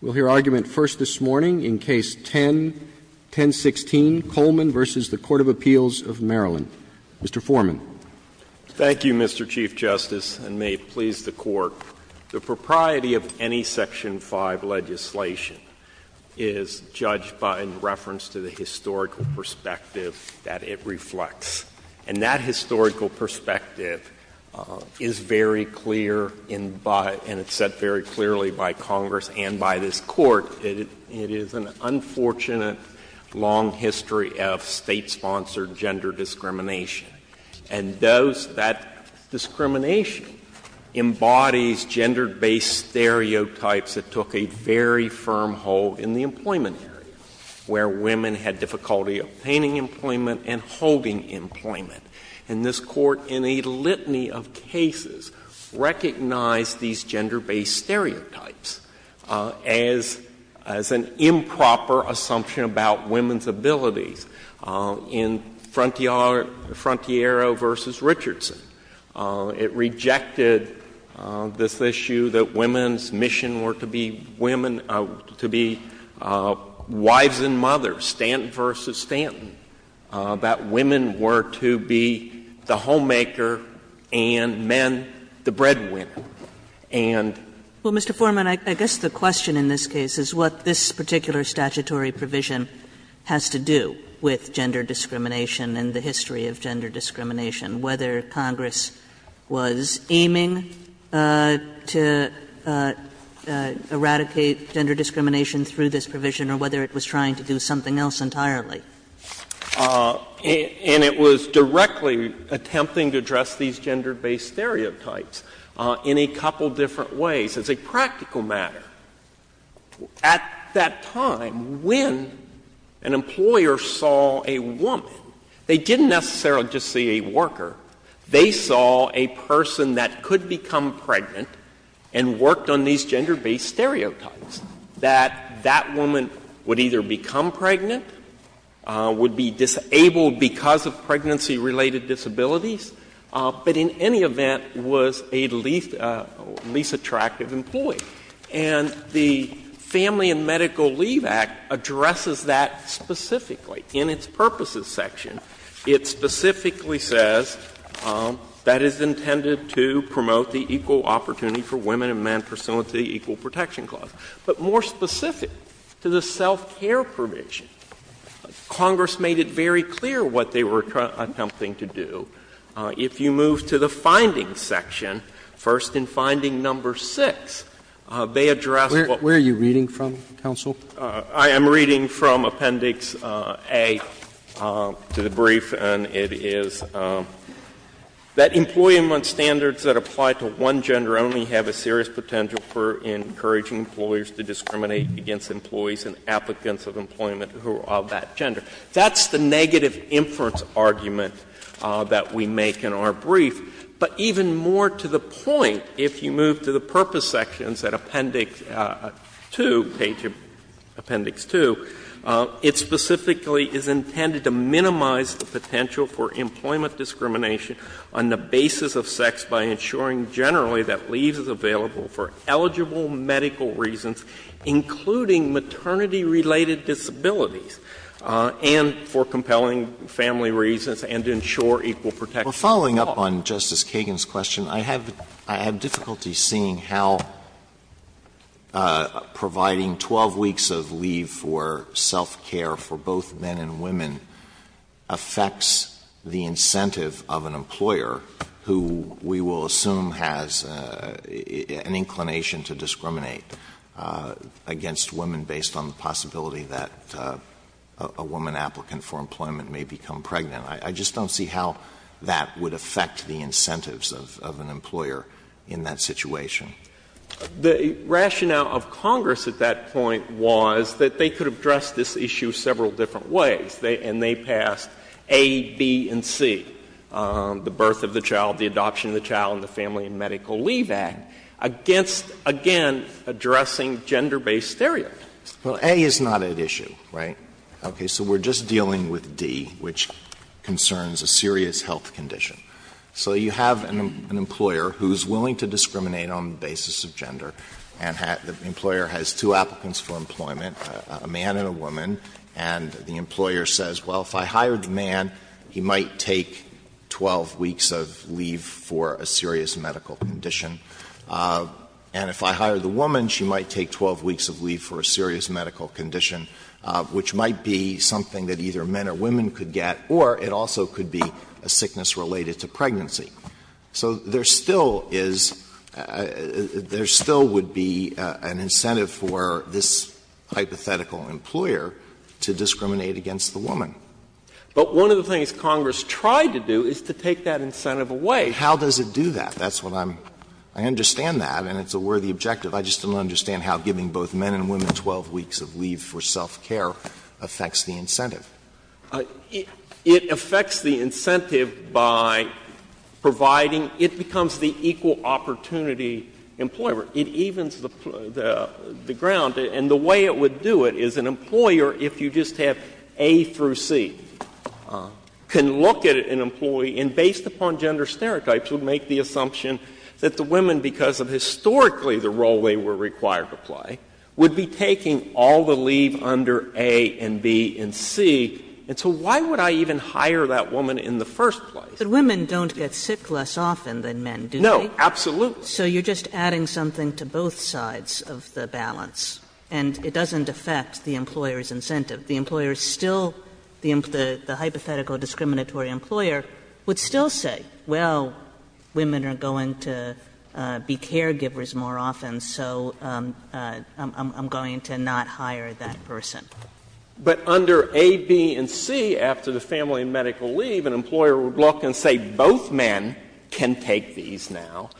We'll hear argument first this morning in Case 10-1016, Coleman v. The Court of Appeals of Maryland. Mr. Foreman. Thank you, Mr. Chief Justice, and may it please the Court. The propriety of any Section 5 legislation is judged by reference to the historical perspective that it reflects. And that historical perspective is very clear, and it's set very clearly by Congress and by this Court. It is an unfortunate, long history of State-sponsored gender discrimination. And those — that discrimination embodies gender-based stereotypes that took a very firm hold in the employment area, where women had difficulty obtaining employment and holding employment. And this Court, in a litany of cases, recognized these gender-based stereotypes as — as an improper assumption about women's abilities. In Frontiero v. Richardson, it rejected this issue that women's mission were to be women — to be wives and mothers. Stanton v. Stanton, that women were to be the homemaker and men the breadwinner. And — Well, Mr. Foreman, I guess the question in this case is what this particular statutory provision has to do with gender discrimination and the history of gender discrimination through this provision, or whether it was trying to do something else entirely. And it was directly attempting to address these gender-based stereotypes in a couple different ways. As a practical matter, at that time, when an employer saw a woman, they didn't necessarily just see a worker. They saw a person that could become pregnant and worked on these gender-based stereotypes, that that woman would either become pregnant, would be disabled because of pregnancy-related disabilities, but in any event was a least — least attractive employee. And the Family and Medical Leave Act addresses that specifically in its purposes section. It specifically says that it's intended to promote the equal opportunity for women and men pursuant to the Equal Protection Clause. But more specific to the self-care provision, Congress made it very clear what they were attempting to do. If you move to the findings section, first in finding number 6, they address what — Where are you reading from, counsel? I am reading from Appendix A to the brief, and it is that employee-in-one standards that apply to one gender only have a serious potential for encouraging employers to discriminate against employees and applicants of employment who are of that gender. That's the negative inference argument that we make in our brief. But even more to the point, if you move to the purpose sections at Appendix 2, page of Appendix 2, it specifically is intended to minimize the potential for employment discrimination on the basis of sex by ensuring generally that leave is available for eligible medical reasons, including maternity-related disabilities, and for compelling family reasons, and to ensure equal protection clause. Alito, we're following up on Justice Kagan's question. I have — I have difficulty seeing how providing 12 weeks of leave for self-care for both men and women affects the incentive of an employer who we will assume has an inclination to discriminate against women based on the possibility that a woman applicant for employment may become pregnant. I just don't see how that would affect the incentives of an employer in that situation. The rationale of Congress at that point was that they could address this issue several different ways, and they passed A, B, and C, the birth of the child, the adoption of the child, and the Family and Medical Leave Act, against, again, addressing gender-based stereotypes. Well, A is not at issue, right? Okay. So we're just dealing with D, which concerns a serious health condition. So you have an employer who's willing to discriminate on the basis of gender, and the employer has two applicants for employment, a man and a woman, and the employer says, well, if I hire the man, he might take 12 weeks of leave for a serious medical condition, and if I hire the woman, she might take 12 weeks of leave for a serious medical condition, which might be something that either men or women could get, or it also could be a sickness related to pregnancy. So there still is — there still would be an incentive for this hypothetical employer to discriminate against the woman. But one of the things Congress tried to do is to take that incentive away. How does it do that? That's what I'm — I understand that, and it's a worthy objective. I just don't understand how giving both men and women 12 weeks of leave for self-care affects the incentive. It affects the incentive by providing — it becomes the equal opportunity employer. It evens the ground, and the way it would do it is an employer, if you just have A through C, can look at an employee and, based upon gender stereotypes, would make the assumption that the women, because of historically the role they were required to play, would be taking all the leave under A and B and C. And so why would I even hire that woman in the first place? But women don't get sick less often than men, do they? No, absolutely. So you're just adding something to both sides of the balance, and it doesn't affect the employer's incentive. The employer is still — the hypothetical discriminatory employer would still say, well, women are going to be caregivers more often, so I'm going to not hire that person. But under A, B, and C, after the family and medical leave, an employer would look and say both men can take these now,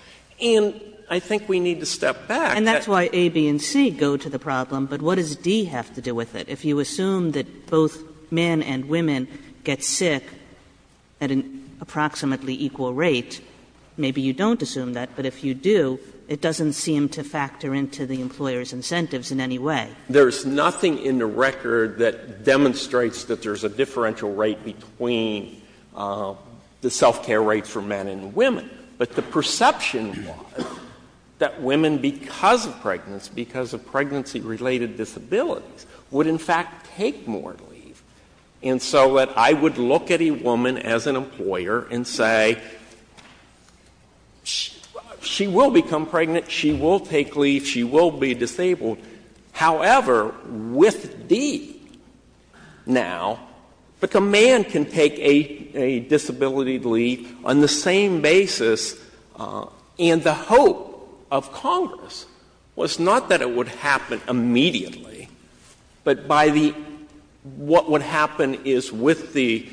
and I think we need to step back. And that's why A, B, and C go to the problem, but what does D have to do with it? If you assume that both men and women get sick at an approximately equal rate, maybe you don't assume that, but if you do, it doesn't seem to factor into the employer's incentives in any way. There's nothing in the record that demonstrates that there's a differential rate between the self-care rate for men and women. But the perception was that women, because of pregnancy, because of pregnancy-related disabilities, would in fact take more leave. And so that I would look at a woman as an employer and say, she will become pregnant, she will take leave, she will be disabled. However, with D now, a man can take a disability leave on the same basis, and the hope of Congress was not that it would happen immediately, but by the — what would happen is with the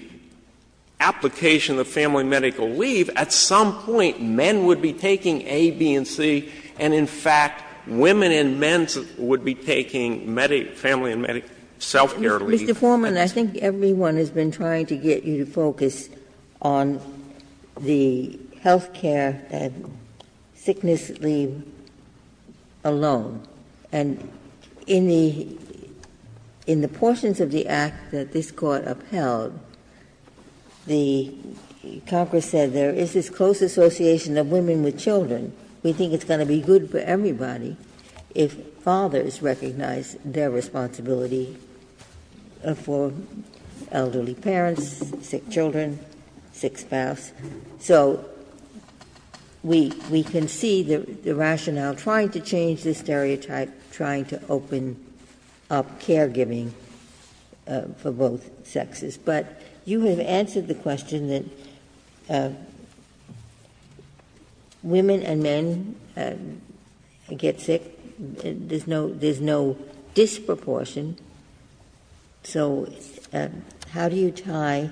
application of family medical leave, at some point men would be taking A, B, and C, and in fact women and men would be taking family and medical self-care leave. Ginsburg. Mr. Foreman, I think everyone has been trying to get you to focus on the health care and sickness leave alone, and in the portions of the act that this Court upheld, the Congress said there is this close association of women with children. We think it's going to be good for everybody if fathers recognize their responsibility for elderly parents, sick children, sick spouse. So we can see the rationale trying to change this stereotype, trying to open up caregiving for both sexes. But you have answered the question that women and men get sick. There's no disproportion. So how do you tie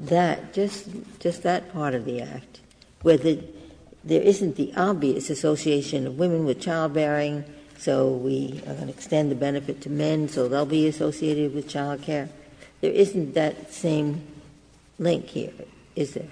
that, just that part of the act, where there isn't the obvious association of women with childbearing, so we extend the benefit to men, so they'll be associated with child care. There isn't that same link here, is there?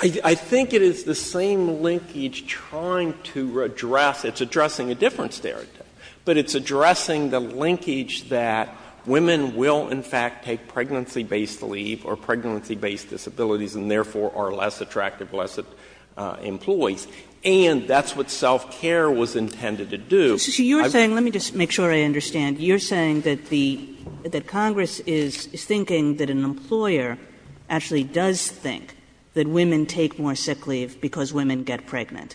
I think it is the same linkage trying to address — it's addressing a different stereotype, but it's addressing the linkage that women will in fact take pregnancy-based leave or pregnancy-based disabilities and therefore are less attractive, less employees. And that's what self-care was intended to do. Kagan. Let me just make sure I understand. You're saying that Congress is thinking that an employer actually does think that women take more sick leave because women get pregnant.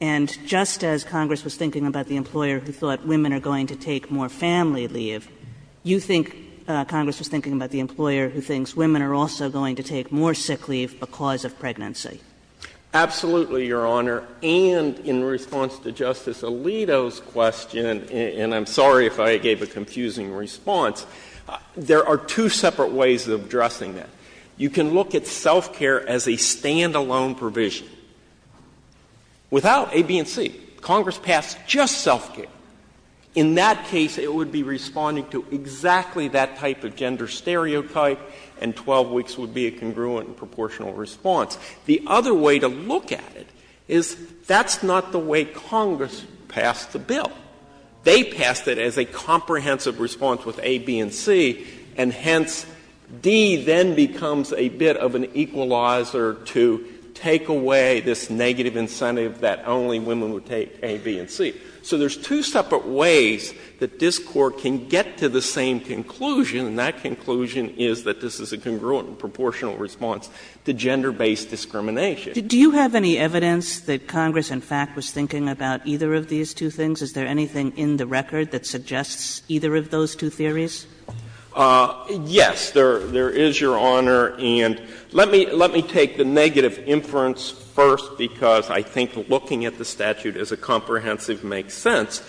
And just as Congress was thinking about the employer who thought women are going to take more family leave, you think Congress was thinking about the employer who thinks women are also going to take more sick leave because of pregnancy. Absolutely, Your Honor. And in response to Justice Alito's question, and I'm sorry if I gave a confusing response, there are two separate ways of addressing that. You can look at self-care as a standalone provision. Without A, B, and C, Congress passed just self-care. In that case, it would be responding to exactly that type of gender stereotype, and 12 weeks would be a congruent and proportional response. The other way to look at it is that's not the way Congress passed the bill. They passed it as a comprehensive response with A, B, and C, and hence D then becomes a bit of an equalizer to take away this negative incentive that only women would take A, B, and C. So there's two separate ways that this Court can get to the same conclusion, and that conclusion is that this is a congruent and proportional response to gender-based discrimination. Kagan. Do you have any evidence that Congress, in fact, was thinking about either of these two things? Is there anything in the record that suggests either of those two theories? Yes. There is, Your Honor, and let me take the negative inference first because I think looking at the statute as a comprehensive makes sense,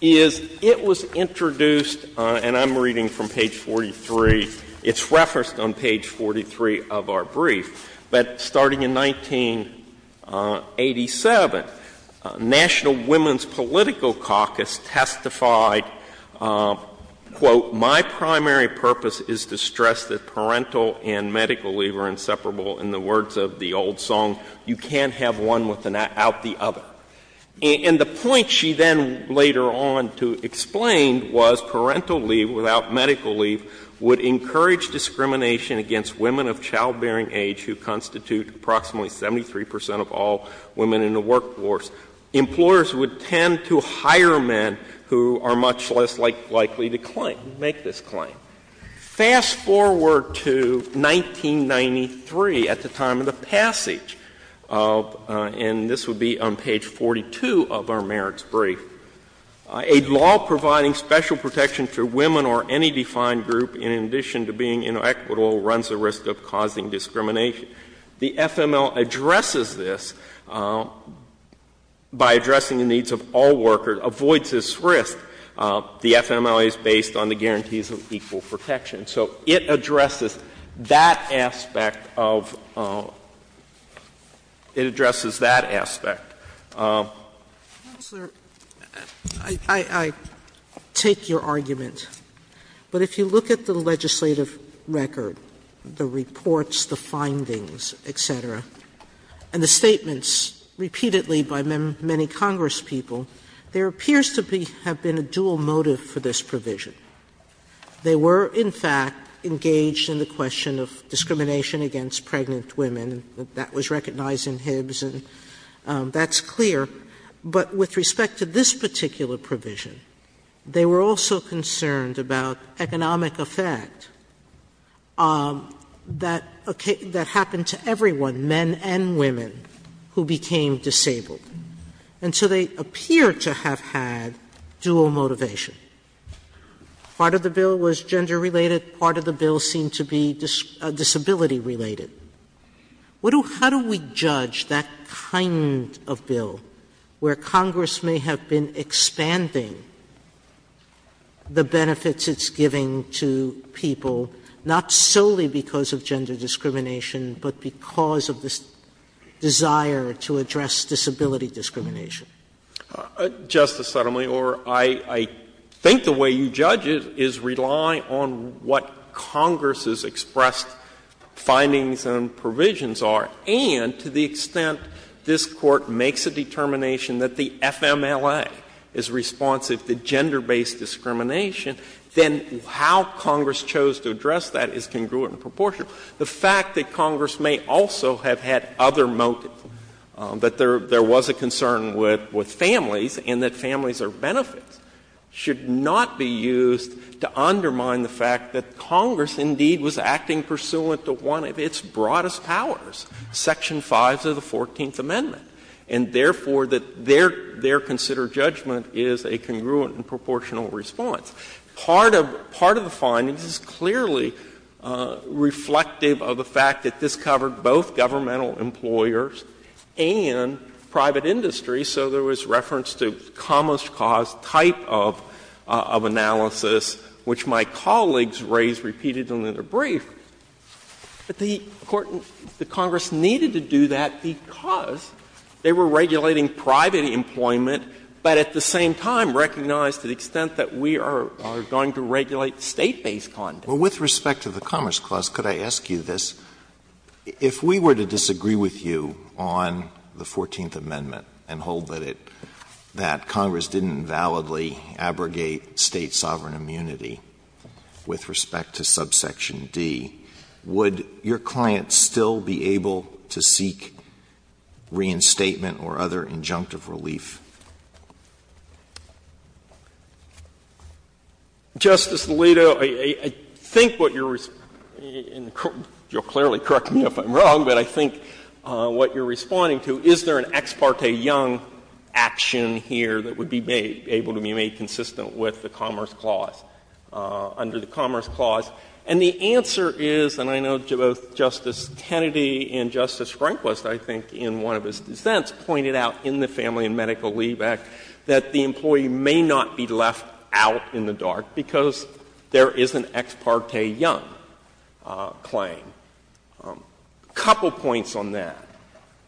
is it was introduced and I'm reading from page 43. It's referenced on page 43 of our brief. But starting in 1987, National Women's Political Caucus testified, quote, My primary purpose is to stress that parental and medical leave are inseparable in the words of the old song, you can't have one without the other. And the point she then later on to explain was parental leave without medical leave would encourage discrimination against women of childbearing age who constitute approximately 73 percent of all women in the workforce. Employers would tend to hire men who are much less likely to claim, make this claim. Fast forward to 1993 at the time of the passage of, and this would be on page 42 of our merits brief, a law providing special protection to women or any defined group in addition to being inequitable runs the risk of causing discrimination. The FML addresses this by addressing the needs of all workers, avoids this risk. The FML is based on the guarantees of equal protection. So it addresses that aspect of, it addresses that aspect. Sotomayor, I take your argument, but if you look at the legislative record, the reports, the findings, et cetera, and the statements repeatedly by many Congress people, there appears to have been a dual motive for this provision. They were, in fact, engaged in the question of discrimination against pregnant women. That was recognized in Hibbs, and that's clear. But with respect to this particular provision, they were also concerned about economic effect that happened to everyone, men and women, who became disabled. And so they appear to have had dual motivation. Part of the bill was gender-related. Part of the bill seemed to be disability-related. How do we judge that kind of bill where Congress may have been expanding the benefits it's giving to people, not solely because of gender discrimination, but because of this desire to address disability discrimination? Justice Sotomayor, I think the way you judge it is relying on what Congress's expressed findings and provisions are. And to the extent this Court makes a determination that the FMLA is responsive to gender-based discrimination, then how Congress chose to address that is congruent in proportion. The fact that Congress may also have had other motives, that there was a concern with families and that families are benefits, should not be used to undermine the fact that Congress indeed was acting pursuant to one of its broadest powers, Section 5 of the Fourteenth Amendment, and therefore that their considered judgment is a congruent and proportional response. Part of the findings is clearly reflective of the fact that this covered both governmental employers and private industry. So there was reference to commerce cause type of analysis, which my colleagues raised repeatedly in their brief. But the Congress needed to do that because they were regulating private employment, but at the same time recognized to the extent that we are going to regulate State-based content. Alitoso, with respect to the Commerce Clause, could I ask you this? If we were to disagree with you on the Fourteenth Amendment and hold that it, that Congress didn't validly abrogate State sovereign immunity with respect to subsection D, would your client still be able to seek reinstatement or other injunctive relief? Justice Alito, I think what you're responding to, and you'll clearly correct me if I'm wrong, but I think what you're responding to, is there an Ex parte Young action here that would be made, able to be made consistent with the Commerce Clause, under the Commerce Clause? And the answer is, and I know both Justice Kennedy and Justice Rehnquist, I think, in one of his dissents, pointed out in the Family and Medical Leave Act that the employee may not be left out in the dark because there is an Ex parte Young claim. A couple points on that.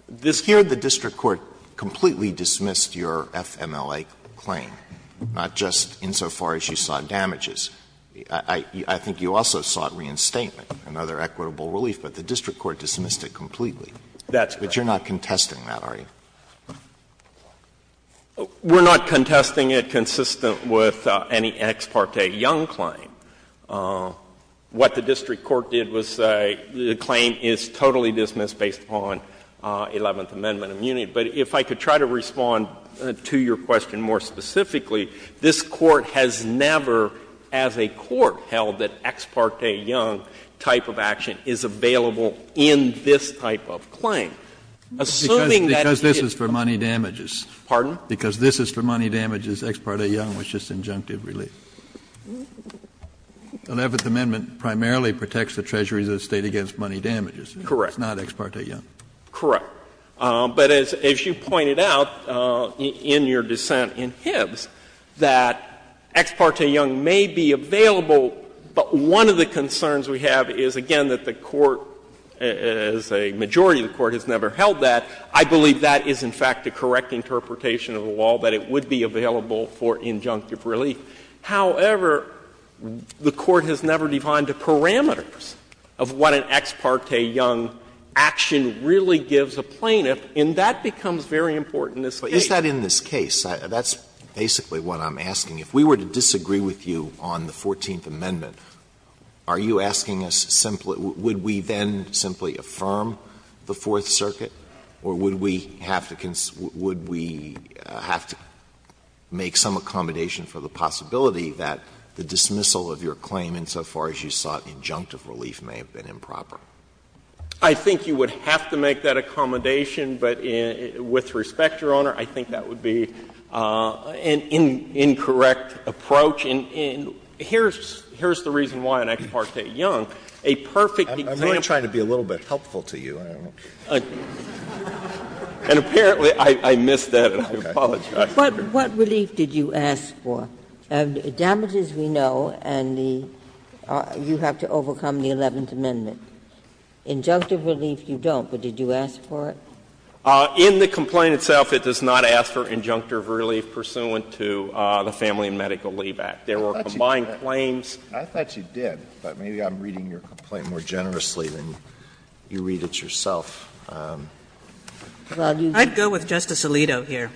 This here, the district court completely dismissed your FMLA claim, not just insofar as you sought damages. I think you also sought reinstatement, another equitable relief, but the district court dismissed it completely. That's correct. We're not contesting that, are you? We're not contesting it consistent with any Ex parte Young claim. What the district court did was say the claim is totally dismissed based on Eleventh Amendment immunity. But if I could try to respond to your question more specifically, this Court has never, as a Court, held that Ex parte Young type of action is available in this type of claim. Assuming that it is not. Kennedy, because this is for money damages. Pardon? Because this is for money damages, Ex parte Young was just injunctive relief. Eleventh Amendment primarily protects the treasuries of the State against money damages. Correct. It's not Ex parte Young. Correct. But as you pointed out in your dissent in Hibbs, that Ex parte Young may be available, but the court has never held that. I believe that is, in fact, the correct interpretation of the law, that it would be available for injunctive relief. However, the Court has never defined the parameters of what an Ex parte Young action really gives a plaintiff, and that becomes very important in this case. But is that in this case? That's basically what I'm asking. If we were to disagree with you on the Fourteenth Amendment, are you asking us simply Would we then simply affirm the Fourth Circuit, or would we have to make some accommodation for the possibility that the dismissal of your claim insofar as you sought injunctive relief may have been improper? I think you would have to make that accommodation, but with respect, Your Honor, I think that would be an incorrect approach. And here's the reason why an Ex parte Young, a perfect example of this would be a perfect approach. I'm only trying to be a little bit helpful to you, Your Honor. And apparently, I missed that, and I apologize for it. What relief did you ask for? Damages we know, and you have to overcome the Eleventh Amendment. Injunctive relief you don't, but did you ask for it? In the complaint itself, it does not ask for injunctive relief pursuant to the Family and Medical Leave Act. There were combined claims. I thought you did, but maybe I'm reading your complaint more generously than you read it yourself. I'd go with Justice Alito here.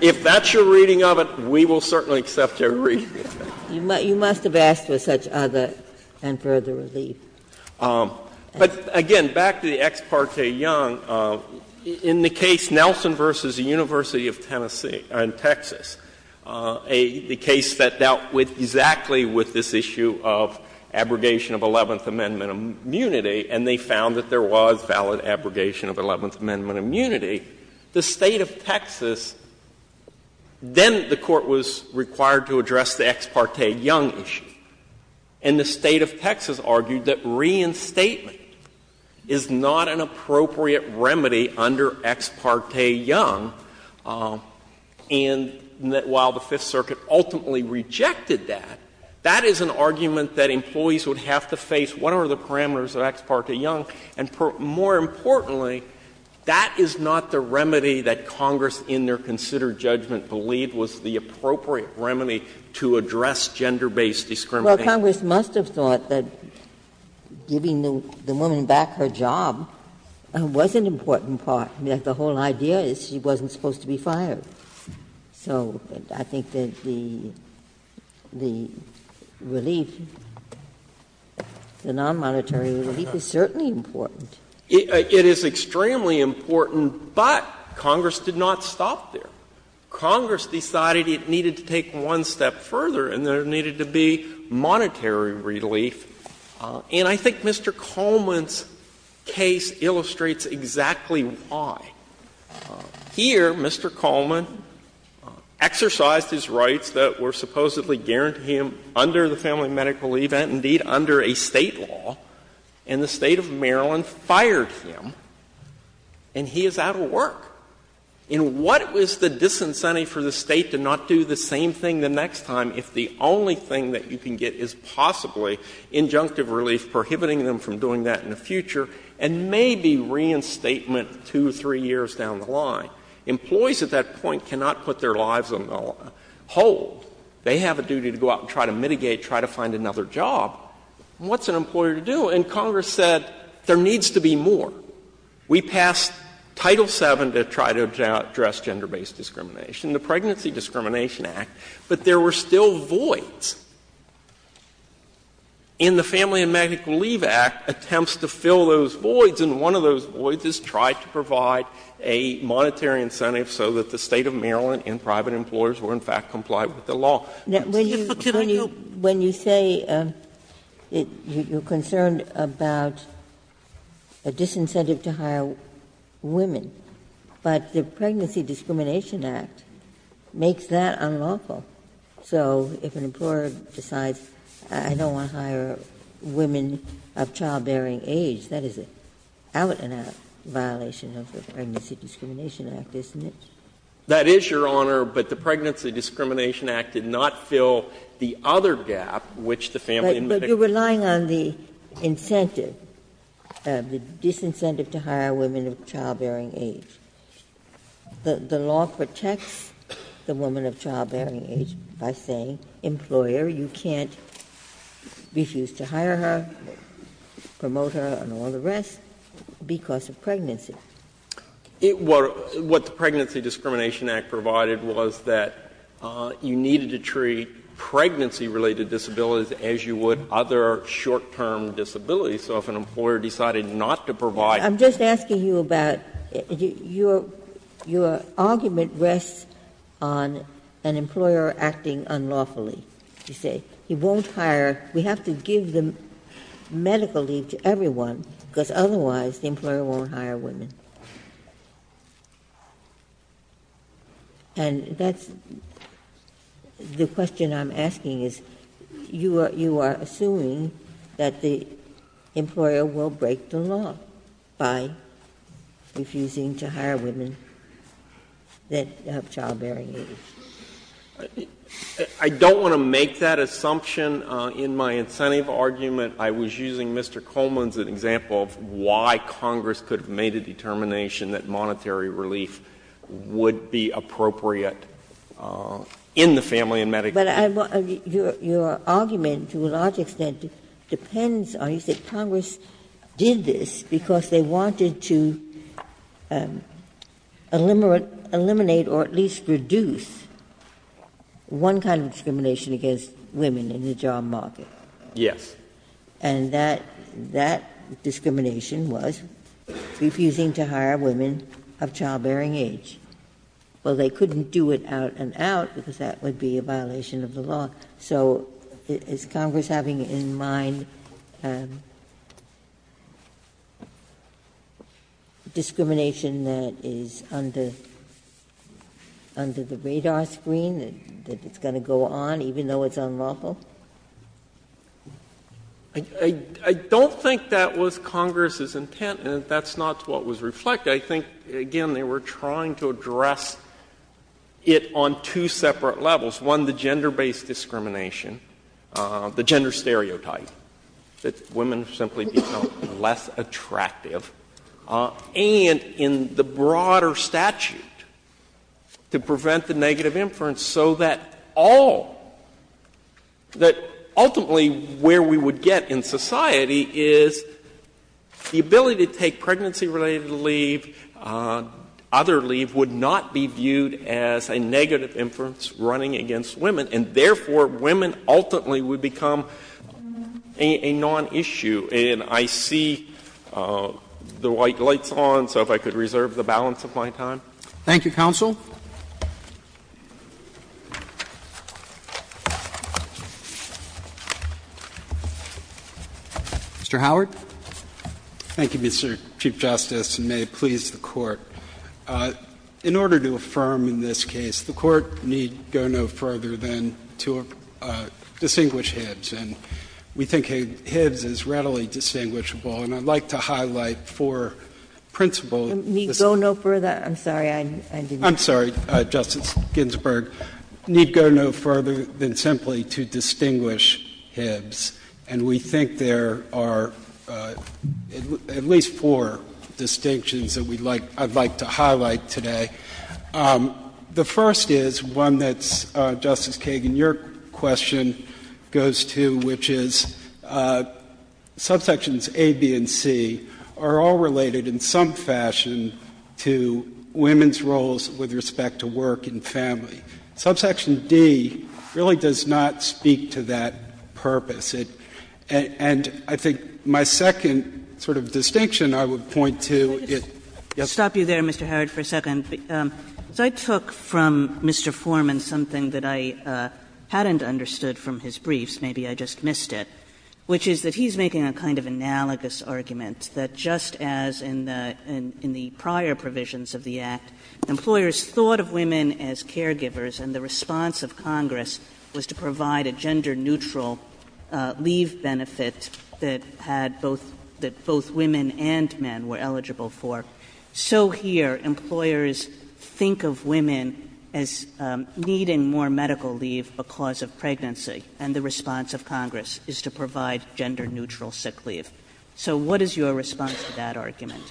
If that's your reading of it, we will certainly accept your reading of it. You must have asked for such other and further relief. But again, back to the Ex parte Young, in the case Nelson v. University of Tennessee in Texas, the case that dealt with exactly with this issue of abrogation of Eleventh Amendment immunity, and they found that there was valid abrogation of Eleventh Amendment immunity, the State of Texas, then the Court was required to address the Ex parte Young issue, and the State of Texas argued that reinstatement is not an appropriate remedy under Ex parte Young, and that while the Fifth Circuit ultimately rejected that, that is an argument that employees would have to face what are the parameters of Ex parte Young, and more importantly, that is not the remedy that Congress in their considered judgment believed was the appropriate remedy to address gender-based discrimination. Ginsburg. Congress must have thought that giving the woman back her job was an important part, that the whole idea is she wasn't supposed to be fired. So I think that the relief, the non-monetary relief, is certainly important. It is extremely important, but Congress did not stop there. Congress decided it needed to take one step further and there needed to be monetary relief, and I think Mr. Coleman's case illustrates exactly why. Here, Mr. Coleman exercised his rights that were supposedly guaranteed him under the family medical leave and, indeed, under a State law, and the State of Maryland did not do the same thing the next time if the only thing that you can get is possibly injunctive relief prohibiting them from doing that in the future and maybe reinstatement two or three years down the line. Employees at that point cannot put their lives on hold. They have a duty to go out and try to mitigate, try to find another job. What's an employer to do? And Congress said there needs to be more. We passed Title VII to try to address gender-based discrimination, the Pregnancy Discrimination Act, but there were still voids. And the Family and Medical Leave Act attempts to fill those voids, and one of those voids is try to provide a monetary incentive so that the State of Maryland and private employers were, in fact, complied with the law. Ginsburg, when you say you're concerned about a disincentive to hire women, but the Pregnancy Discrimination Act makes that unlawful. So if an employer decides, I don't want to hire women of childbearing age, that is an out-and-out violation of the Pregnancy Discrimination Act, isn't it? That is, Your Honor, but the Pregnancy Discrimination Act did not fill the other gap which the Family and Medical Leave Act did. But you're relying on the incentive, the disincentive to hire women of childbearing age. The law protects the woman of childbearing age by saying, employer, you can't refuse to hire her, promote her and all the rest, because of pregnancy. What the Pregnancy Discrimination Act provided was that you needed to treat pregnancy-related disabilities as you would other short-term disabilities. So if an employer decided not to provide your childbearing age, that is an out-and-out violation of the Pregnancy Discrimination Act. Ginsburg, I'm just asking you about, your argument rests on an employer acting unlawfully. You say, he won't hire, we have to give the medical leave to everyone, because otherwise the employer won't hire women. And that's the question I'm asking is, you are assuming that the employer will break the law by refusing to hire women that have childbearing age. I don't want to make that assumption. In my incentive argument, I was using Mr. Coleman's example of why Congress could have made a determination that monetary relief would be appropriate in the family and medical care. But your argument, to a large extent, depends on, you say, Congress did this because they wanted to eliminate or at least reduce one kind of discrimination against women in the job market. Yes. And that discrimination was refusing to hire women of childbearing age. Well, they couldn't do it out-and-out, because that would be a violation of the law. So is Congress having in mind discrimination that is under the radar screen, that is under the radar screen, even though it's unlawful? I don't think that was Congress's intent, and that's not what was reflected. I think, again, they were trying to address it on two separate levels, one, the gender-based discrimination, the gender stereotype, that women simply become less attractive, and in the broader statute, to prevent the negative inference, so that all — that ultimately where we would get in society is the ability to take pregnancy-related leave, other leave, would not be viewed as a negative inference running against women, and therefore women ultimately would become a non-issue. And I see the white light's on, so if I could reserve the balance of my time. Thank you, counsel. Mr. Howard. Thank you, Mr. Chief Justice, and may it please the Court. In order to affirm in this case, the Court need go no further than to distinguish Hibbs. And we think Hibbs is readily distinguishable, and I'd like to highlight four principle — Need go no further? I'm sorry. I didn't — I'm sorry, Justice Ginsburg. Need go no further than simply to distinguish Hibbs. And we think there are at least four distinctions that we'd like — I'd like to highlight today. The first is one that's, Justice Kagan, your question goes to, which is subsections A, B, and C are all related in some fashion to women's roles with respect to work and family. Subsection D really does not speak to that purpose. And I think my second sort of distinction I would point to is — Stop you there, Mr. Howard, for a second. I took from Mr. Foreman something that I hadn't understood from his briefs, maybe I just missed it, which is that he's making a kind of analogous argument that just as in the prior provisions of the Act, employers thought of women as caregivers and the response of Congress was to provide a gender-neutral leave benefit that had both — that both women and men were eligible for. So here, employers think of women as needing more medical leave because of pregnancy and the response of Congress is to provide gender-neutral sick leave. So what is your response to that argument?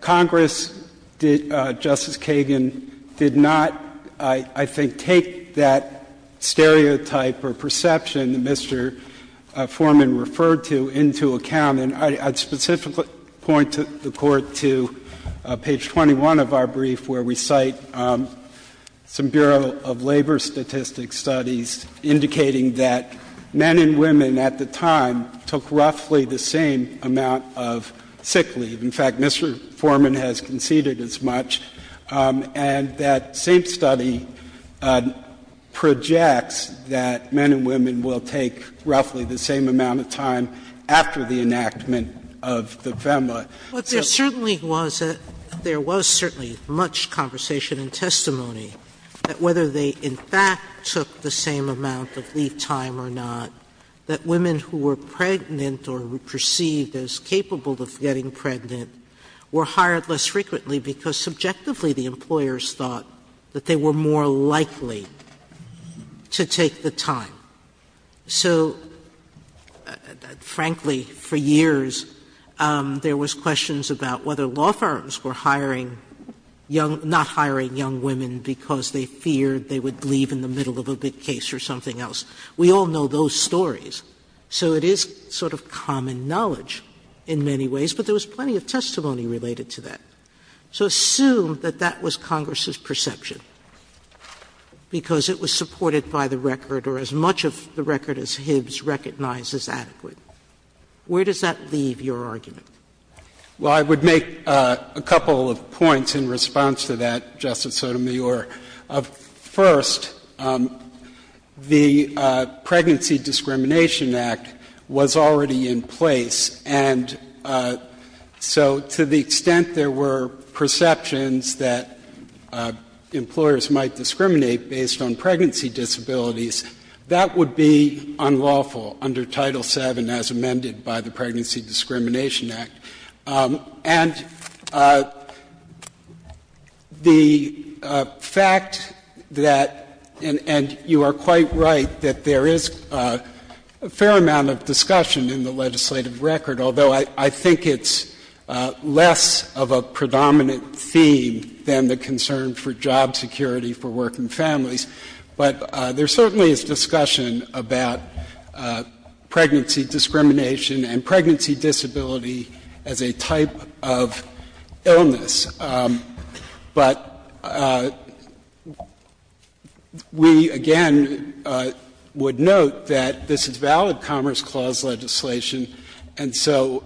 Congress did — Justice Kagan did not, I think, take that stereotype or perception that Mr. Foreman referred to into account. And I'd specifically point the Court to page 21 of our brief where we cite some Bureau of Labor Statistics studies indicating that men and women at the time took roughly the same amount of sick leave. In fact, Mr. Foreman has conceded as much. And that same study projects that men and women will take roughly the same amount of time after the enactment of the FEMA. Sotomayor, there certainly was — there was certainly much conversation and testimony that whether they in fact took the same amount of leave time or not, that women who were pregnant or perceived as capable of getting pregnant were hired less frequently because subjectively the employers thought that they were more likely to take the time. So, frankly, for years there was questions about whether law firms were hiring young — not hiring young women because they feared they would leave in the middle of a big case or something else. We all know those stories. So it is sort of common knowledge in many ways, but there was plenty of testimony related to that. So assume that that was Congress's perception, because it was supported by the record or as much of the record as Hibbs recognized as adequate, where does that leave your argument? Well, I would make a couple of points in response to that, Justice Sotomayor. First, the Pregnancy Discrimination Act was already in place, and so to the extent there were perceptions that employers might discriminate based on pregnancy disabilities, that would be unlawful under Title VII as amended by the Pregnancy Discrimination Act. And the fact that — and you are quite right that there is a fair amount of discussion in the legislative record, although I think it's less of a predominant theme than the concern for job security for working families. But there certainly is discussion about pregnancy discrimination and pregnancy disability as a type of illness. But we, again, would note that this is valid Commerce Clause legislation. And so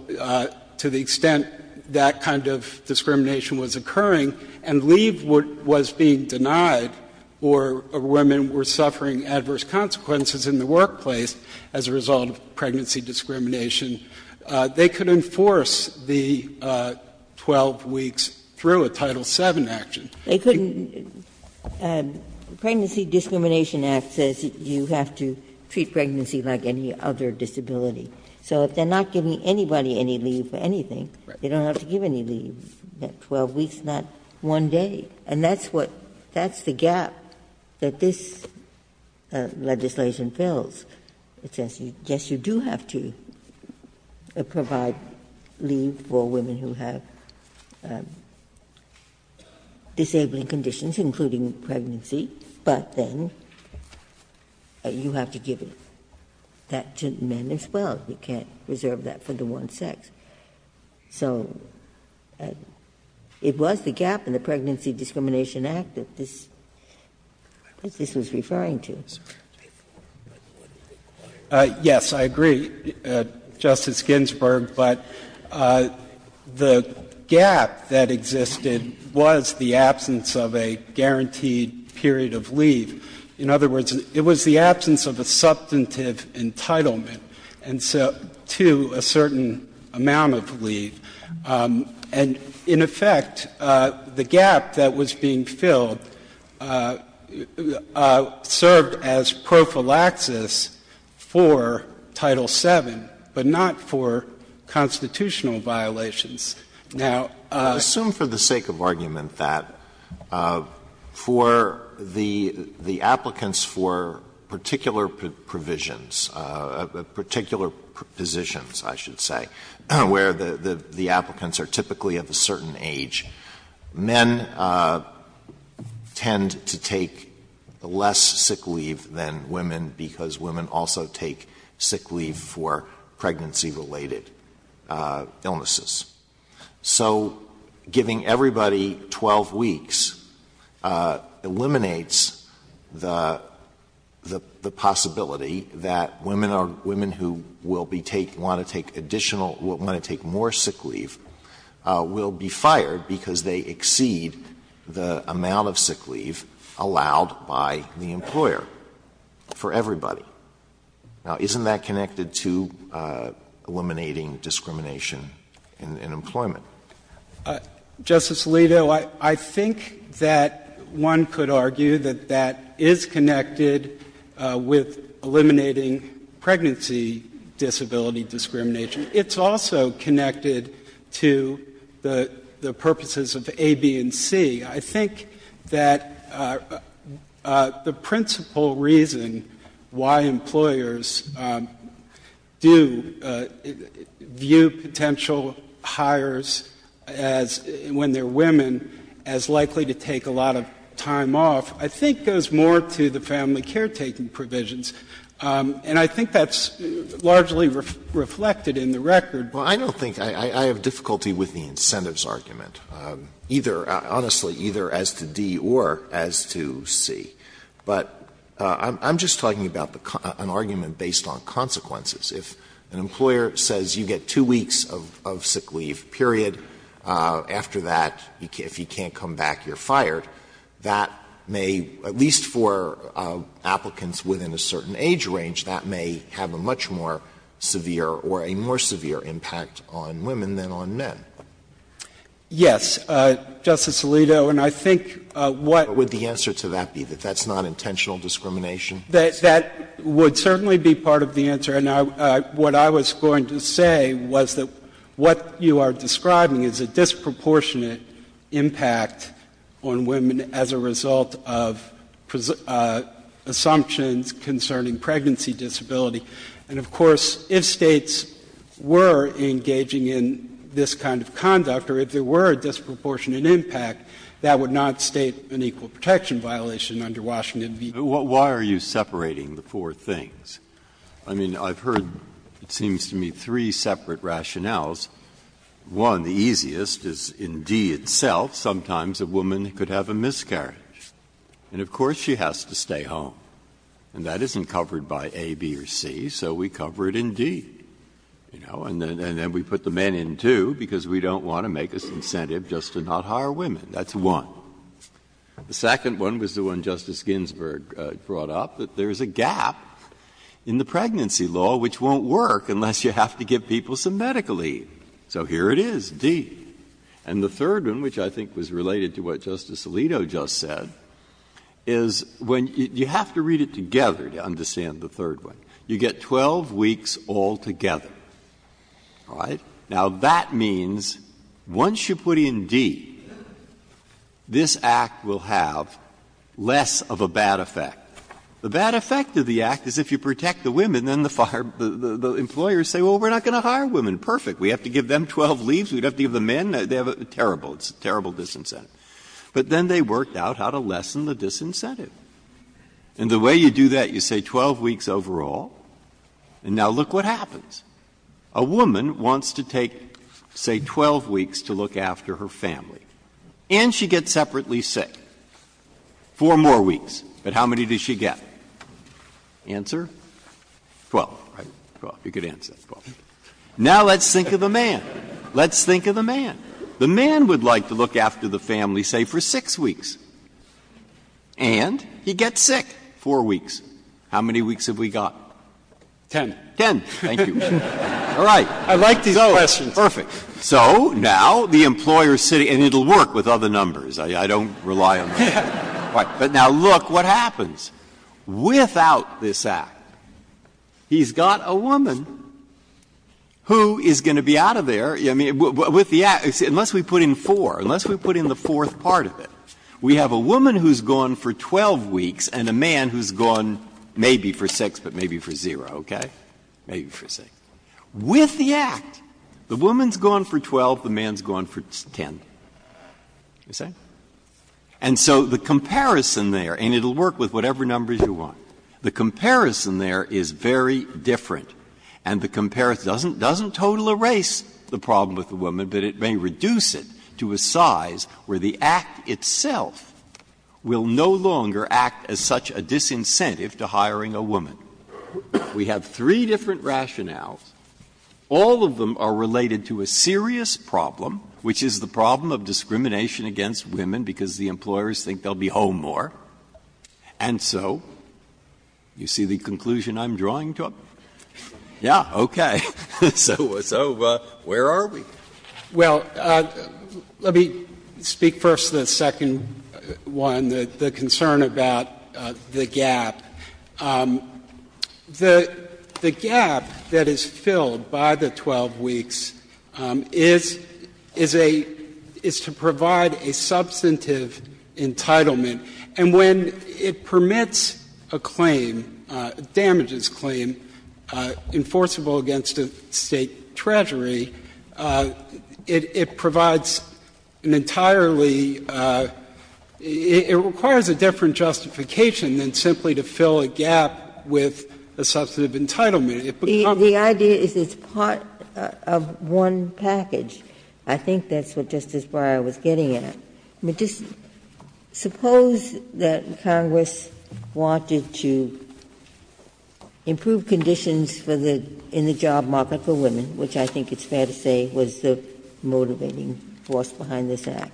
to the extent that kind of discrimination was occurring and leave was being denied or women were suffering adverse consequences in the workplace as a result of pregnancy discrimination, they could enforce the 12 weeks through a Title VII action. They couldn't — Pregnancy Discrimination Act says you have to treat pregnancy like any other disability. So if they're not giving anybody any leave for anything, they don't have to give any leave, 12 weeks, not one day. And that's what — that's the gap that this legislation fills. It says, yes, you do have to provide leave for women who have disabling conditions, including pregnancy, but then you have to give that to men as well. You can't reserve that for the one sex. So it was the gap in the Pregnancy Discrimination Act that this was referring to. Yes, I agree, Justice Ginsburg. But the gap that existed was the absence of a guaranteed period of leave. In other words, it was the absence of a substantive entitlement to a certain amount of leave. And, in effect, the gap that was being filled served as prophylaxis for Title VII, but not for constitutional violations. Now, I assume for the sake of argument that for the applicants for particular provisions, particular positions, I should say, where the applicants are typically of a certain age, men tend to take less sick leave than women because women also take sick leave for pregnancy-related illnesses. So giving everybody 12 weeks eliminates the possibility that women are women who will be take ñ want to take additional ñ want to take more sick leave will be fired because they exceed the amount of sick leave allowed by the employer for everybody. Now, isn't that connected to eliminating discrimination in employment? Justice Alito, I think that one could argue that that is connected with eliminating pregnancy disability discrimination. It's also connected to the purposes of A, B, and C. I think that the principal reason why employers do view potential hires as, when they're women, as likely to take a lot of time off, I think goes more to the family caretaking provisions. And I think that's largely reflected in the record. Alito I don't think ñ I have difficulty with the incentives argument, either ñ honestly, either as to D or as to C. But I'm just talking about an argument based on consequences. If an employer says you get 2 weeks of sick leave, period, after that, if you can't come back, you're fired, that may, at least for applicants within a certain age range, that may have a much more severe or a more severe impact on women than on men. Yes, Justice Alito, and I think what ñ What would the answer to that be, that that's not intentional discrimination? That would certainly be part of the answer. And what I was going to say was that what you are describing is a disproportionate impact on women as a result of assumptions concerning pregnancy disability. And, of course, if States were engaging in this kind of conduct or if there were a disproportionate impact, that would not state an equal protection violation under Washington v. Davis. Breyer, why are you separating the four things? I mean, I've heard, it seems to me, three separate rationales. One, the easiest, is in D itself, sometimes a woman could have a miscarriage. And, of course, she has to stay home. And that isn't covered by A, B, or C, so we cover it in D, you know. And then we put the men in, too, because we don't want to make this incentive just to not hire women. That's one. The second one was the one Justice Ginsburg brought up, that there is a gap in the So here it is, D. And the third one, which I think was related to what Justice Alito just said, is when you have to read it together to understand the third one, you get 12 weeks altogether. All right? Now, that means once you put in D, this Act will have less of a bad effect. The bad effect of the Act is if you protect the women, then the employers say, well, we're not going to hire women, perfect. We have to give them 12 leaves, we'd have to give the men, they have a terrible disincentive. But then they worked out how to lessen the disincentive. And the way you do that, you say 12 weeks overall, and now look what happens. A woman wants to take, say, 12 weeks to look after her family, and she gets separately sick. Four more weeks, but how many does she get? Answer? Twelve, right? Twelve, you could answer that. Now, let's think of the man. Let's think of the man. The man would like to look after the family, say, for 6 weeks, and he gets sick. Four weeks. How many weeks have we got? Ten. Ten, thank you. All right. I like these questions. So, perfect. So now, the employer's sitting at the table, and it will work with other numbers. I don't rely on that. But now look what happens. Without this Act, he's got a woman who is going to be out of there. I mean, with the Act, unless we put in 4, unless we put in the fourth part of it, we have a woman who's gone for 12 weeks and a man who's gone maybe for 6, but maybe for 0, okay? Maybe for 6. With the Act, the woman's gone for 12, the man's gone for 10. You see? And so the comparison there, and it will work with whatever numbers you want, the comparison there is very different. And the comparison doesn't total erase the problem with the woman, but it may reduce it to a size where the Act itself will no longer act as such a disincentive to hiring a woman. We have three different rationales. All of them are related to a serious problem, which is the problem of discrimination against women, because the employers think they'll be home more. And so you see the conclusion I'm drawing to it? Yeah, okay. So where are we? Well, let me speak first to the second one, the concern about the gap. The gap that is filled by the 12 weeks is a — is to provide a substantive entitlement, and when it permits a claim, damages claim, enforceable against a State treasury, it provides an entirely — it requires a different justification than simply to fill a gap with a substantive entitlement. It becomes a— The idea is it's part of one package. I think that's what Justice Breyer was getting at. I mean, just suppose that Congress wanted to improve conditions for the — in the job market for women, which I think it's fair to say was the motivating force behind this Act,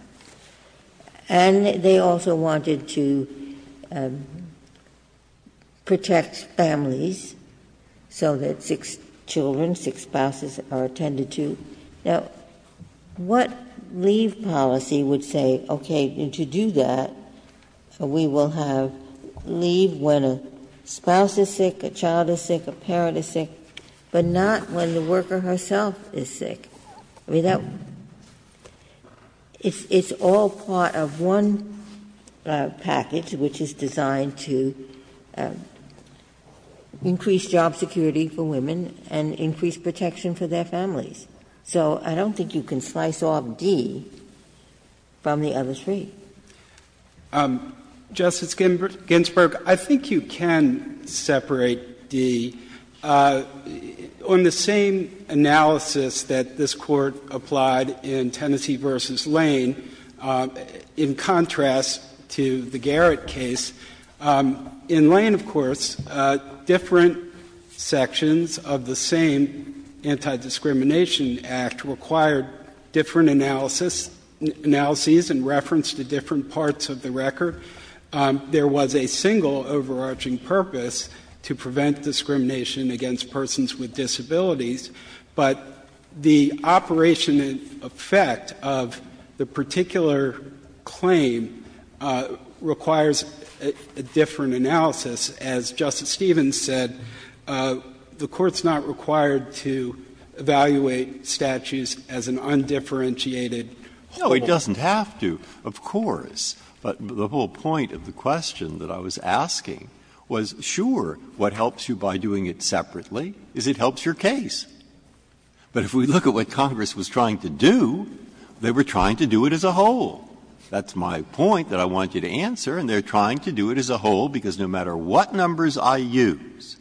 and they also wanted to protect families so that six children, six spouses are attended to. Now, what leave policy would say, okay, to do that, we will have leave when a spouse is sick, a child is sick, a parent is sick, but not when the worker herself is sick? I mean, that — it's all part of one package which is designed to increase job security for women and increase protection for their families. So I don't think you can slice off D from the other three. Justice Ginsburg, I think you can separate D. On the same analysis that this Court applied in Tennessee v. Lane, in contrast to the Garrett case, in Lane, of course, different sections of the same Anti-Discrimination Act required different analysis and reference to different parts of the record. There was a single overarching purpose, to prevent discrimination against persons with disabilities. But the operation and effect of the particular claim requires a different analysis. As Justice Stevens said, the Court's not required to evaluate statutes as an undifferentiated whole. Breyer. No, it doesn't have to, of course. But the whole point of the question that I was asking was, sure, what helps you by doing it separately is it helps your case. But if we look at what Congress was trying to do, they were trying to do it as a whole. That's my point that I wanted to answer, and they're trying to do it as a whole because no matter what numbers I use,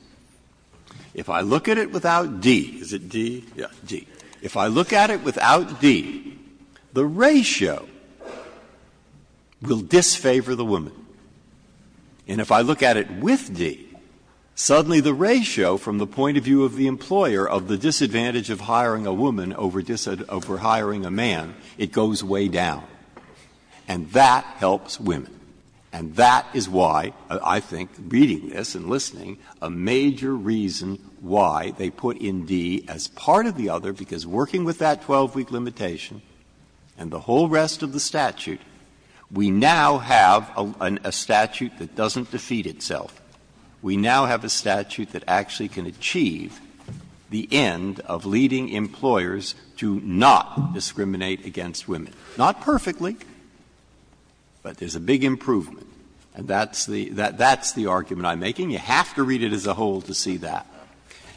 if I look at it without D — is it D? Yeah, D. If I look at it without D, the ratio will disfavor the woman. And if I look at it with D, suddenly the ratio from the point of view of the employer of the disadvantage of hiring a woman over hiring a man, it goes way down. And that helps women. And that is why, I think, reading this and listening, a major reason why they put in D as part of the other, because working with that 12-week limitation and the whole rest of the statute, we now have a statute that doesn't defeat itself. We now have a statute that actually can achieve the end of leading employers to not discriminate against women. Not perfectly, but there's a big improvement, and that's the argument I'm making. You have to read it as a whole to see that.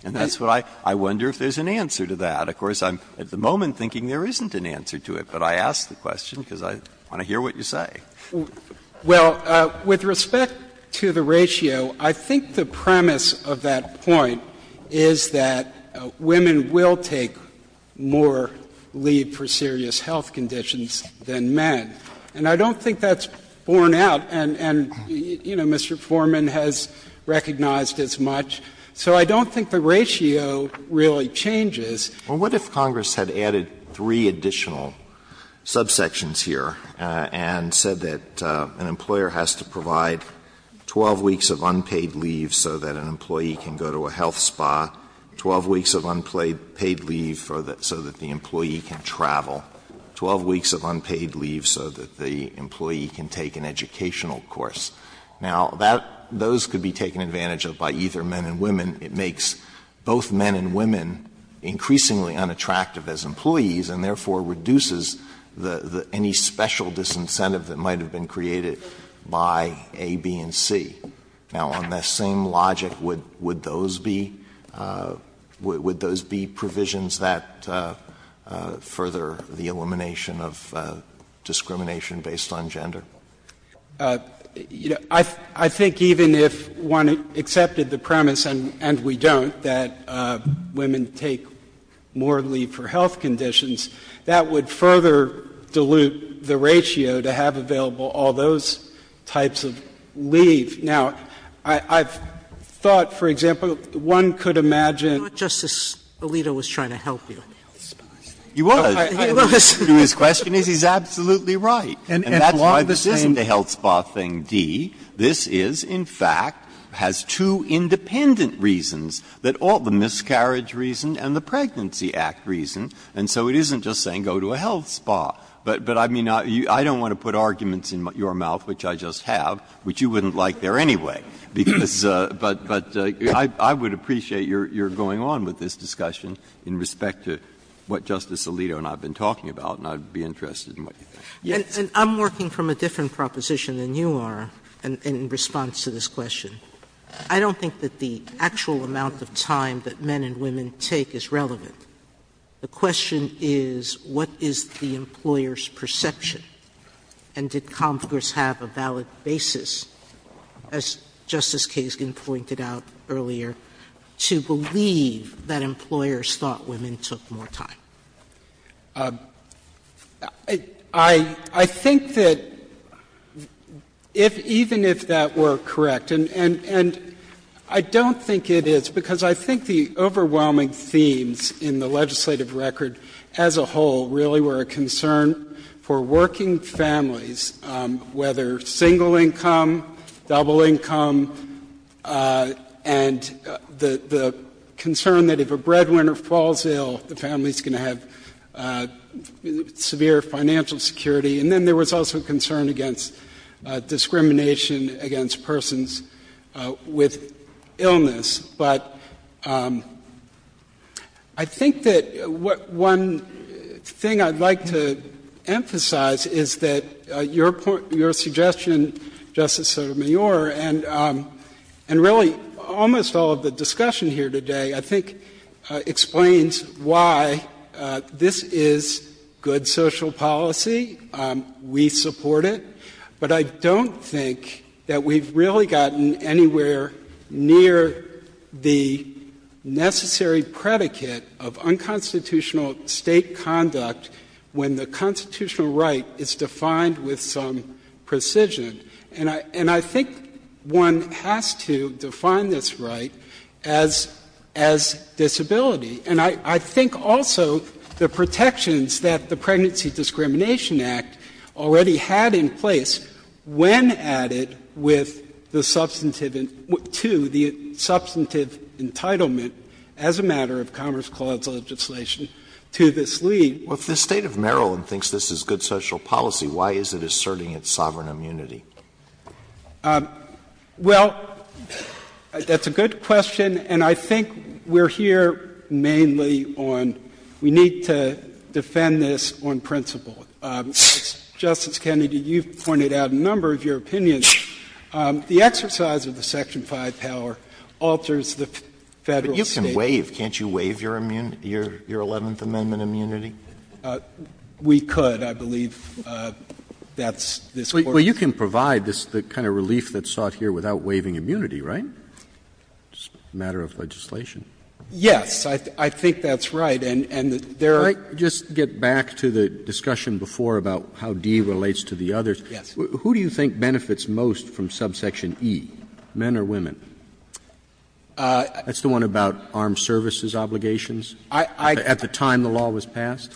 And that's what I — I wonder if there's an answer to that. Of course, I'm at the moment thinking there isn't an answer to it, but I ask the question because I want to hear what you say. Well, with respect to the ratio, I think the premise of that point is that women will take more leave for serious health conditions than men. And I don't think that's borne out, and, you know, Mr. Foreman has recognized as much. So I don't think the ratio really changes. Alito, what if Congress had added three additional subsections here and said that an employer has to provide 12 weeks of unpaid leave so that an employee can go to a health spa, 12 weeks of unpaid leave so that the employee can travel, 12 weeks of unpaid leave so that the employee can take an educational course? Now, that — those could be taken advantage of by either men and women. It makes both men and women increasingly unattractive as employees and therefore reduces the — any special disincentive that might have been created by A, B, and C. Now, on that same logic, would those be — would those be provisions that further the elimination of discrimination based on gender? You know, I think even if one accepted the premise, and we don't, that women take more leave for health conditions, that would further dilute the ratio to have available all those types of leave. Now, I've thought, for example, one could imagine — Sotomayor, Justice Alito was trying to help you. He was. He was. His question is he's absolutely right. And that's why this isn't a health spa thing, D. This is, in fact, has two independent reasons, the miscarriage reason and the Pregnancy Act reason. And so it isn't just saying go to a health spa. But, I mean, I don't want to put arguments in your mouth, which I just have, which you wouldn't like there anyway, because — but I would appreciate your going on with this discussion in respect to what Justice Alito and I have been talking about, and I would be interested in what you think. And I'm working from a different proposition than you are in response to this question. I don't think that the actual amount of time that men and women take is relevant. The question is what is the employer's perception, and did Congress have a valid basis, as Justice Kagan pointed out earlier, to believe that employers thought women took more time? I think that if — even if that were correct, and I don't think it is, because I think the overwhelming themes in the legislative record as a whole really were a concern for working families, whether single-income, double-income, and the concern that if a woman is going to have severe financial security, and then there was also concern against discrimination against persons with illness. But I think that one thing I'd like to emphasize is that your suggestion, Justice Sotomayor, and really almost all of the discussion here today, I think, explains why this is good social policy. We support it. But I don't think that we've really gotten anywhere near the necessary predicate of unconstitutional State conduct when the constitutional right is defined with some precision. And I think one has to define this right as disability. And I think also the protections that the Pregnancy Discrimination Act already had in place when added with the substantive — to the substantive entitlement as a matter of Commerce Clause legislation to this lead. Alito, if the State of Maryland thinks this is good social policy, why is it asserting its sovereign immunity? Well, that's a good question, and I think we're here mainly on we need to defend this on principle. Justice Kennedy, you've pointed out a number of your opinions. The exercise of the Section 5 power alters the Federal State. But you can waive. Can't you waive your 11th Amendment immunity? We could. I believe that's this Court's view. Well, you can provide the kind of relief that's sought here without waiving immunity, right? It's a matter of legislation. Yes. I think that's right. And there are — Can I just get back to the discussion before about how D relates to the others? Yes. Who do you think benefits most from subsection E, men or women? That's the one about armed services obligations at the time the law was passed?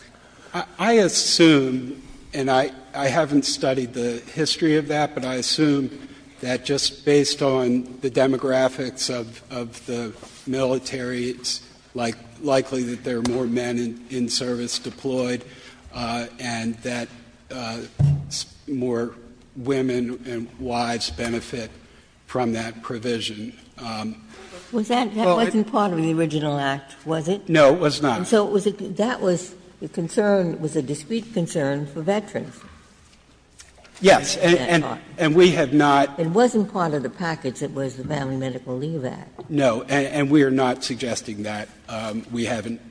I assume, and I haven't studied the history of that, but I assume that just based on the demographics of the military, it's likely that there are more men in service deployed and that more women and wives benefit from that provision. That wasn't part of the original act, was it? No, it was not. And so that was a concern, was a discrete concern for veterans. Yes. And we have not. It wasn't part of the package that was the Family Medical Leave Act. No. And we are not suggesting that. We haven't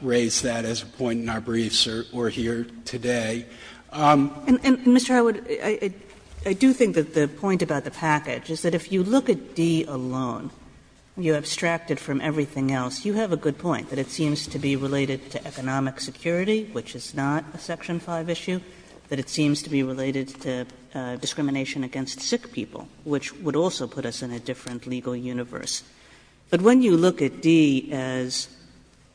raised that as a point in our briefs or here today. And, Mr. Howard, I do think that the point about the package is that if you look at everything else, you have a good point, that it seems to be related to economic security, which is not a section 5 issue, that it seems to be related to discrimination against sick people, which would also put us in a different legal universe. But when you look at D as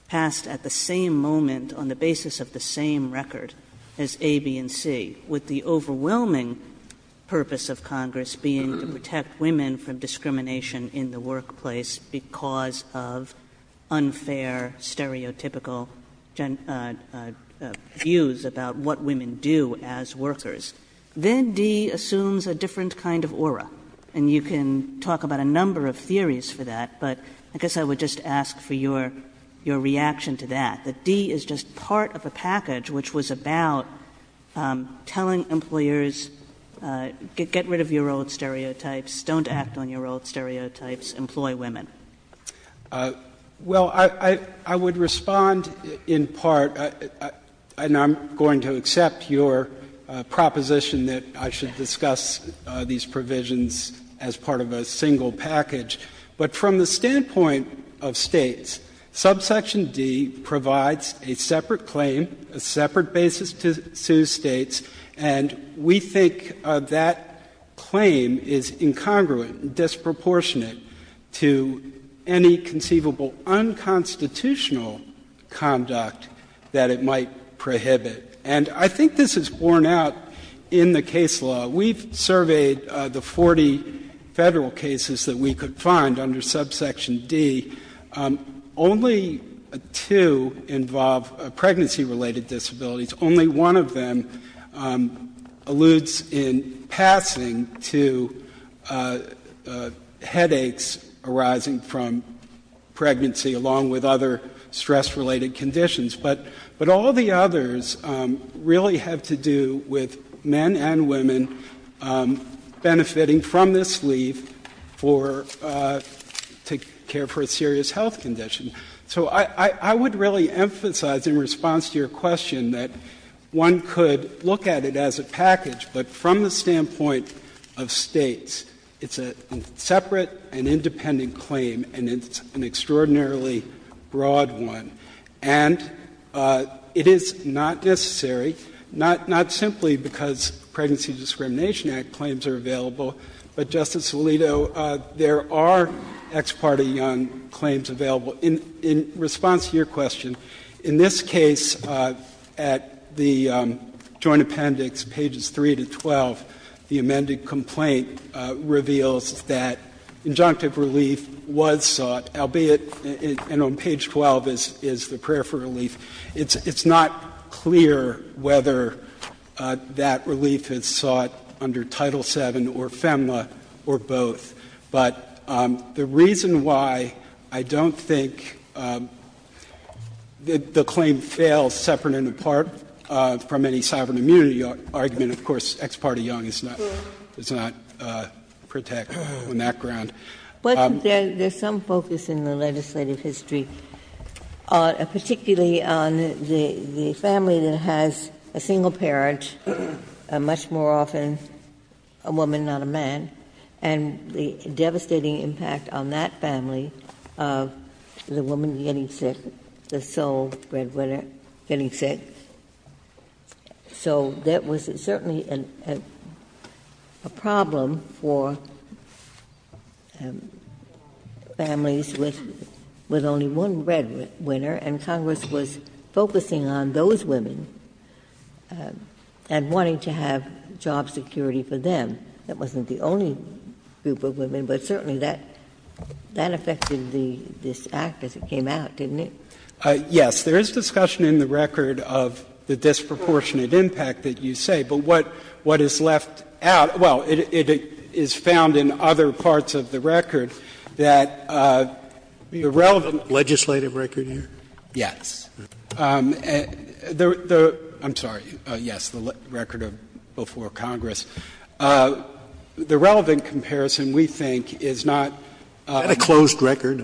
passed at the same moment on the basis of the same record as A, B, and C, with the overwhelming purpose of Congress being to protect women from discrimination in the workplace because of unfair, stereotypical views about what women do as workers, then D assumes a different kind of aura. And you can talk about a number of theories for that, but I guess I would just ask for your reaction to that, that D is just part of a package which was about telling employers, get rid of your old stereotypes, don't act on your old stereotypes, employ women. Well, I would respond in part, and I'm going to accept your proposition that I should discuss these provisions as part of a single package. But from the standpoint of States, subsection D provides a separate claim, a separate basis to sue States, and we think that claim is incongruent, disproportionate to any conceivable unconstitutional conduct that it might prohibit. And I think this is borne out in the case law. We've surveyed the 40 Federal cases that we could find under subsection D only to involve pregnancy-related disabilities. Only one of them alludes in passing to headaches arising from pregnancy along with other stress-related conditions. But all the others really have to do with men and women benefiting from this leave for to care for a serious health condition. So I would really emphasize in response to your question that one could look at it as a package, but from the standpoint of States, it's a separate and independent claim, and it's an extraordinarily broad one. And it is not necessary, not simply because Pregnancy Discrimination Act claims are available, but, Justice Alito, there are ex parte young claims available. In response to your question, in this case at the Joint Appendix, pages 3 to 12, the amended complaint reveals that injunctive relief was sought, albeit, and on page 12 is the prayer for relief, it's not clear whether that relief is sought under Title VII or FEMLA or both. But the reason why I don't think the claim fails separate and apart from any sovereign immunity argument, of course, ex parte young is not protected on that ground. But there's some focus in the legislative history, particularly on the family that has a single parent, much more often a woman, not a man, and the devastating impact on that family of the woman getting sick, the sole breadwinner getting sick. So there was certainly a problem for families with only one breadwinner, and Congress was focusing on those women and wanting to have job security for them. That wasn't the only group of women, but certainly that affected this Act as it came out, didn't it? Yes. There is discussion in the record of the disproportionate impact that you say, but what is left out — well, it is found in other parts of the record that the relevant Is that a closed record? I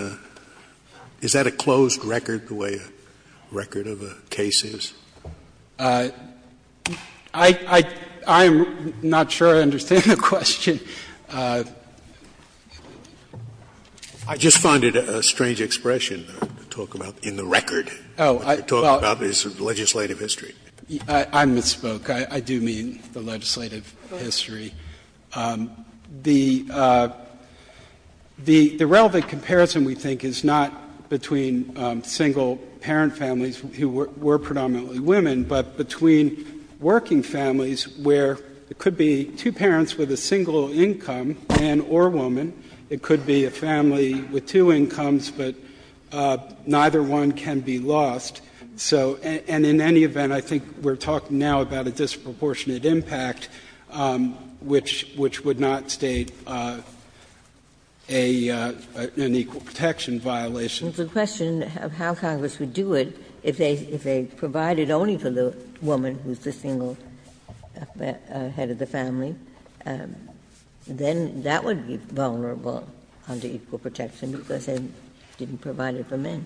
mean, is that a closed record the way a record of a case is? I'm not sure I understand the question. talk about in the record. What you're talking about is legislative history. I misspoke. I do mean the legislative history. The relevant comparison, we think, is not between single parent families who were predominantly women, but between working families where it could be two parents with a single income, man or woman. It could be a family with two incomes, but neither one can be lost. And in any event, I think we're talking now about a disproportionate impact, which would not state an equal protection violation. It's a question of how Congress would do it if they provided only for the woman who's the single head of the family. Then that would be vulnerable under equal protection because they didn't provide it for men.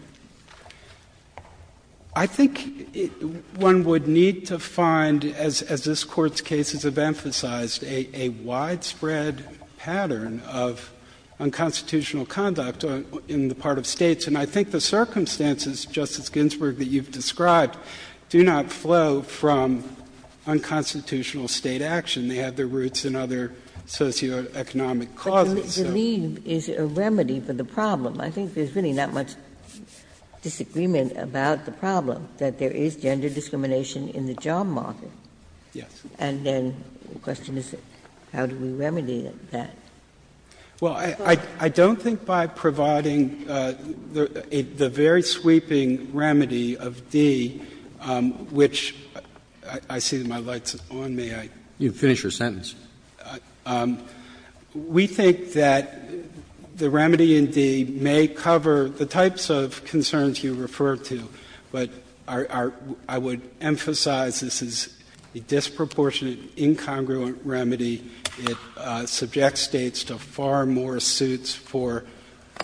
I think one would need to find, as this Court's cases have emphasized, a widespread pattern of unconstitutional conduct in the part of States. And I think the circumstances, Justice Ginsburg, that you've described do not flow from unconstitutional State action. They have their roots in other socioeconomic causes. Ginsburg. But to leave is a remedy for the problem. I think there's really not much disagreement about the problem, that there is gender discrimination in the job market. Yes. And then the question is how do we remedy that? Well, I don't think by providing the very sweeping remedy of D, which I see my light's on, may I? You can finish your sentence. We think that the remedy in D may cover the types of concerns you refer to, but I would emphasize this is a disproportionate, incongruent remedy. It subjects States to far more suits for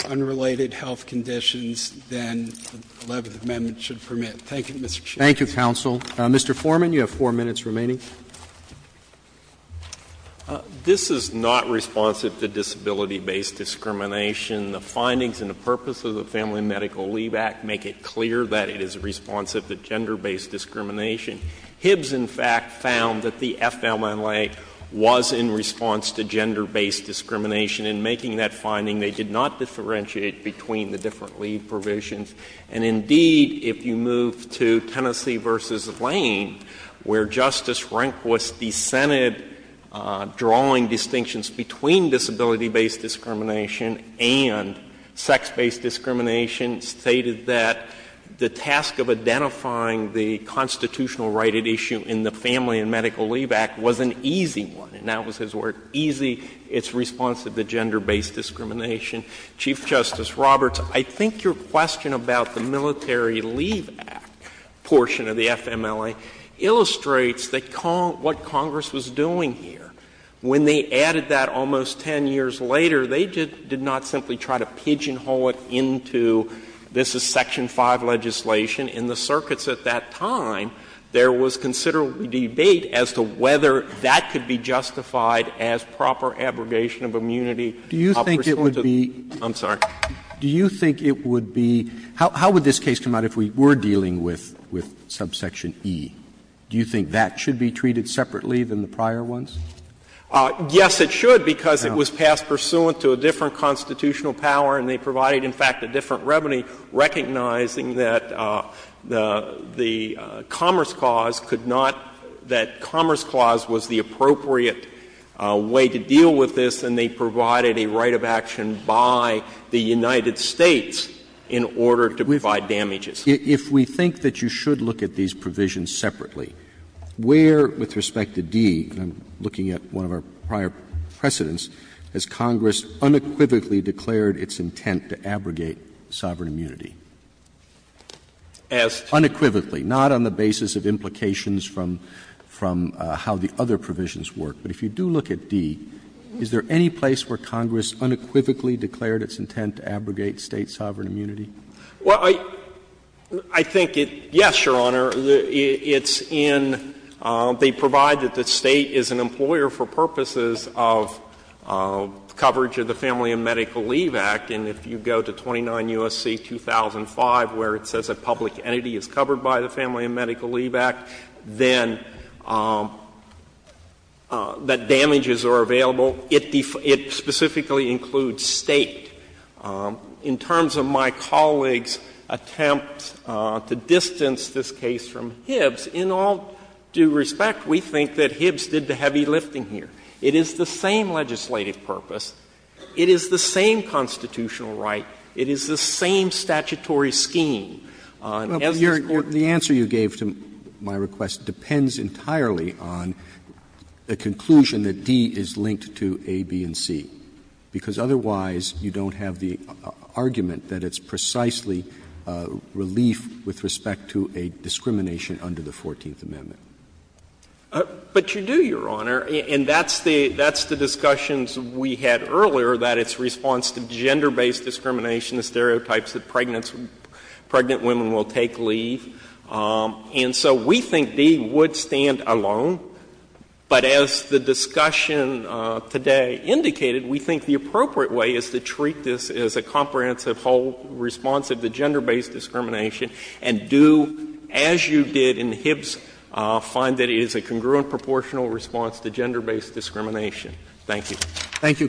unrelated health conditions than the Eleventh Amendment should permit. Thank you, Mr. Chief. Thank you, counsel. Mr. Foreman, you have 4 minutes remaining. This is not responsive to disability-based discrimination. The findings and the purpose of the Family Medical Leave Act make it clear that it is not responsive to gender-based discrimination. Hibbs, in fact, found that the FMLA was in response to gender-based discrimination. In making that finding, they did not differentiate between the different leave provisions. And indeed, if you move to Tennessee v. Lane, where Justice Rehnquist dissented drawing distinctions between disability-based discrimination and sex-based discrimination, stated that the task of identifying the constitutional right at issue in the Family and Medical Leave Act was an easy one. And that was his word, easy. It's responsive to gender-based discrimination. Chief Justice Roberts, I think your question about the Military Leave Act portion of the FMLA illustrates what Congress was doing here. When they added that almost 10 years later, they did not simply try to pigeonhole it into this is Section 5 legislation. In the circuits at that time, there was considerable debate as to whether that could be justified as proper abrogation of immunity. Roberts, I'm sorry. Roberts, do you think it would be — how would this case come out if we were dealing with subsection E? Do you think that should be treated separately than the prior ones? Yes, it should, because it was passed pursuant to a different constitutional power, and they provided, in fact, a different remedy, recognizing that the Commerce Clause could not — that Commerce Clause was the appropriate way to deal with this, and they provided a right of action by the United States in order to provide damages. If we think that you should look at these provisions separately, where, with respect to D, I'm looking at one of our prior precedents, has Congress unequivocally declared its intent to abrogate sovereign immunity? As to? Unequivocally. Not on the basis of implications from how the other provisions work. But if you do look at D, is there any place where Congress unequivocally declared its intent to abrogate State sovereign immunity? Well, I think it — yes, Your Honor. It's in — they provide that the State is an employer for purposes of coverage of the Family and Medical Leave Act. And if you go to 29 U.S.C. 2005, where it says a public entity is covered by the Family and Medical Leave Act, then that damages are available. It specifically includes State. In terms of my colleague's attempt to distance this case from Hibbs, in all due respect, we think that Hibbs did the heavy lifting here. It is the same legislative purpose. It is the same constitutional right. It is the same statutory scheme. And as this Court— The answer you gave to my request depends entirely on the conclusion that D is linked to A, B, and C, because otherwise you don't have the argument that it's precisely relief with respect to a discrimination under the Fourteenth Amendment. But you do, Your Honor. And that's the discussions we had earlier, that it's response to gender-based discrimination, the stereotypes that pregnant women will take leave. And so we think D would stand alone. But as the discussion today indicated, we think the appropriate way is to treat this as a comprehensive whole response of the gender-based discrimination and do, as you did in Hibbs, find that it is a congruent proportional response to gender-based discrimination. Thank you. Roberts.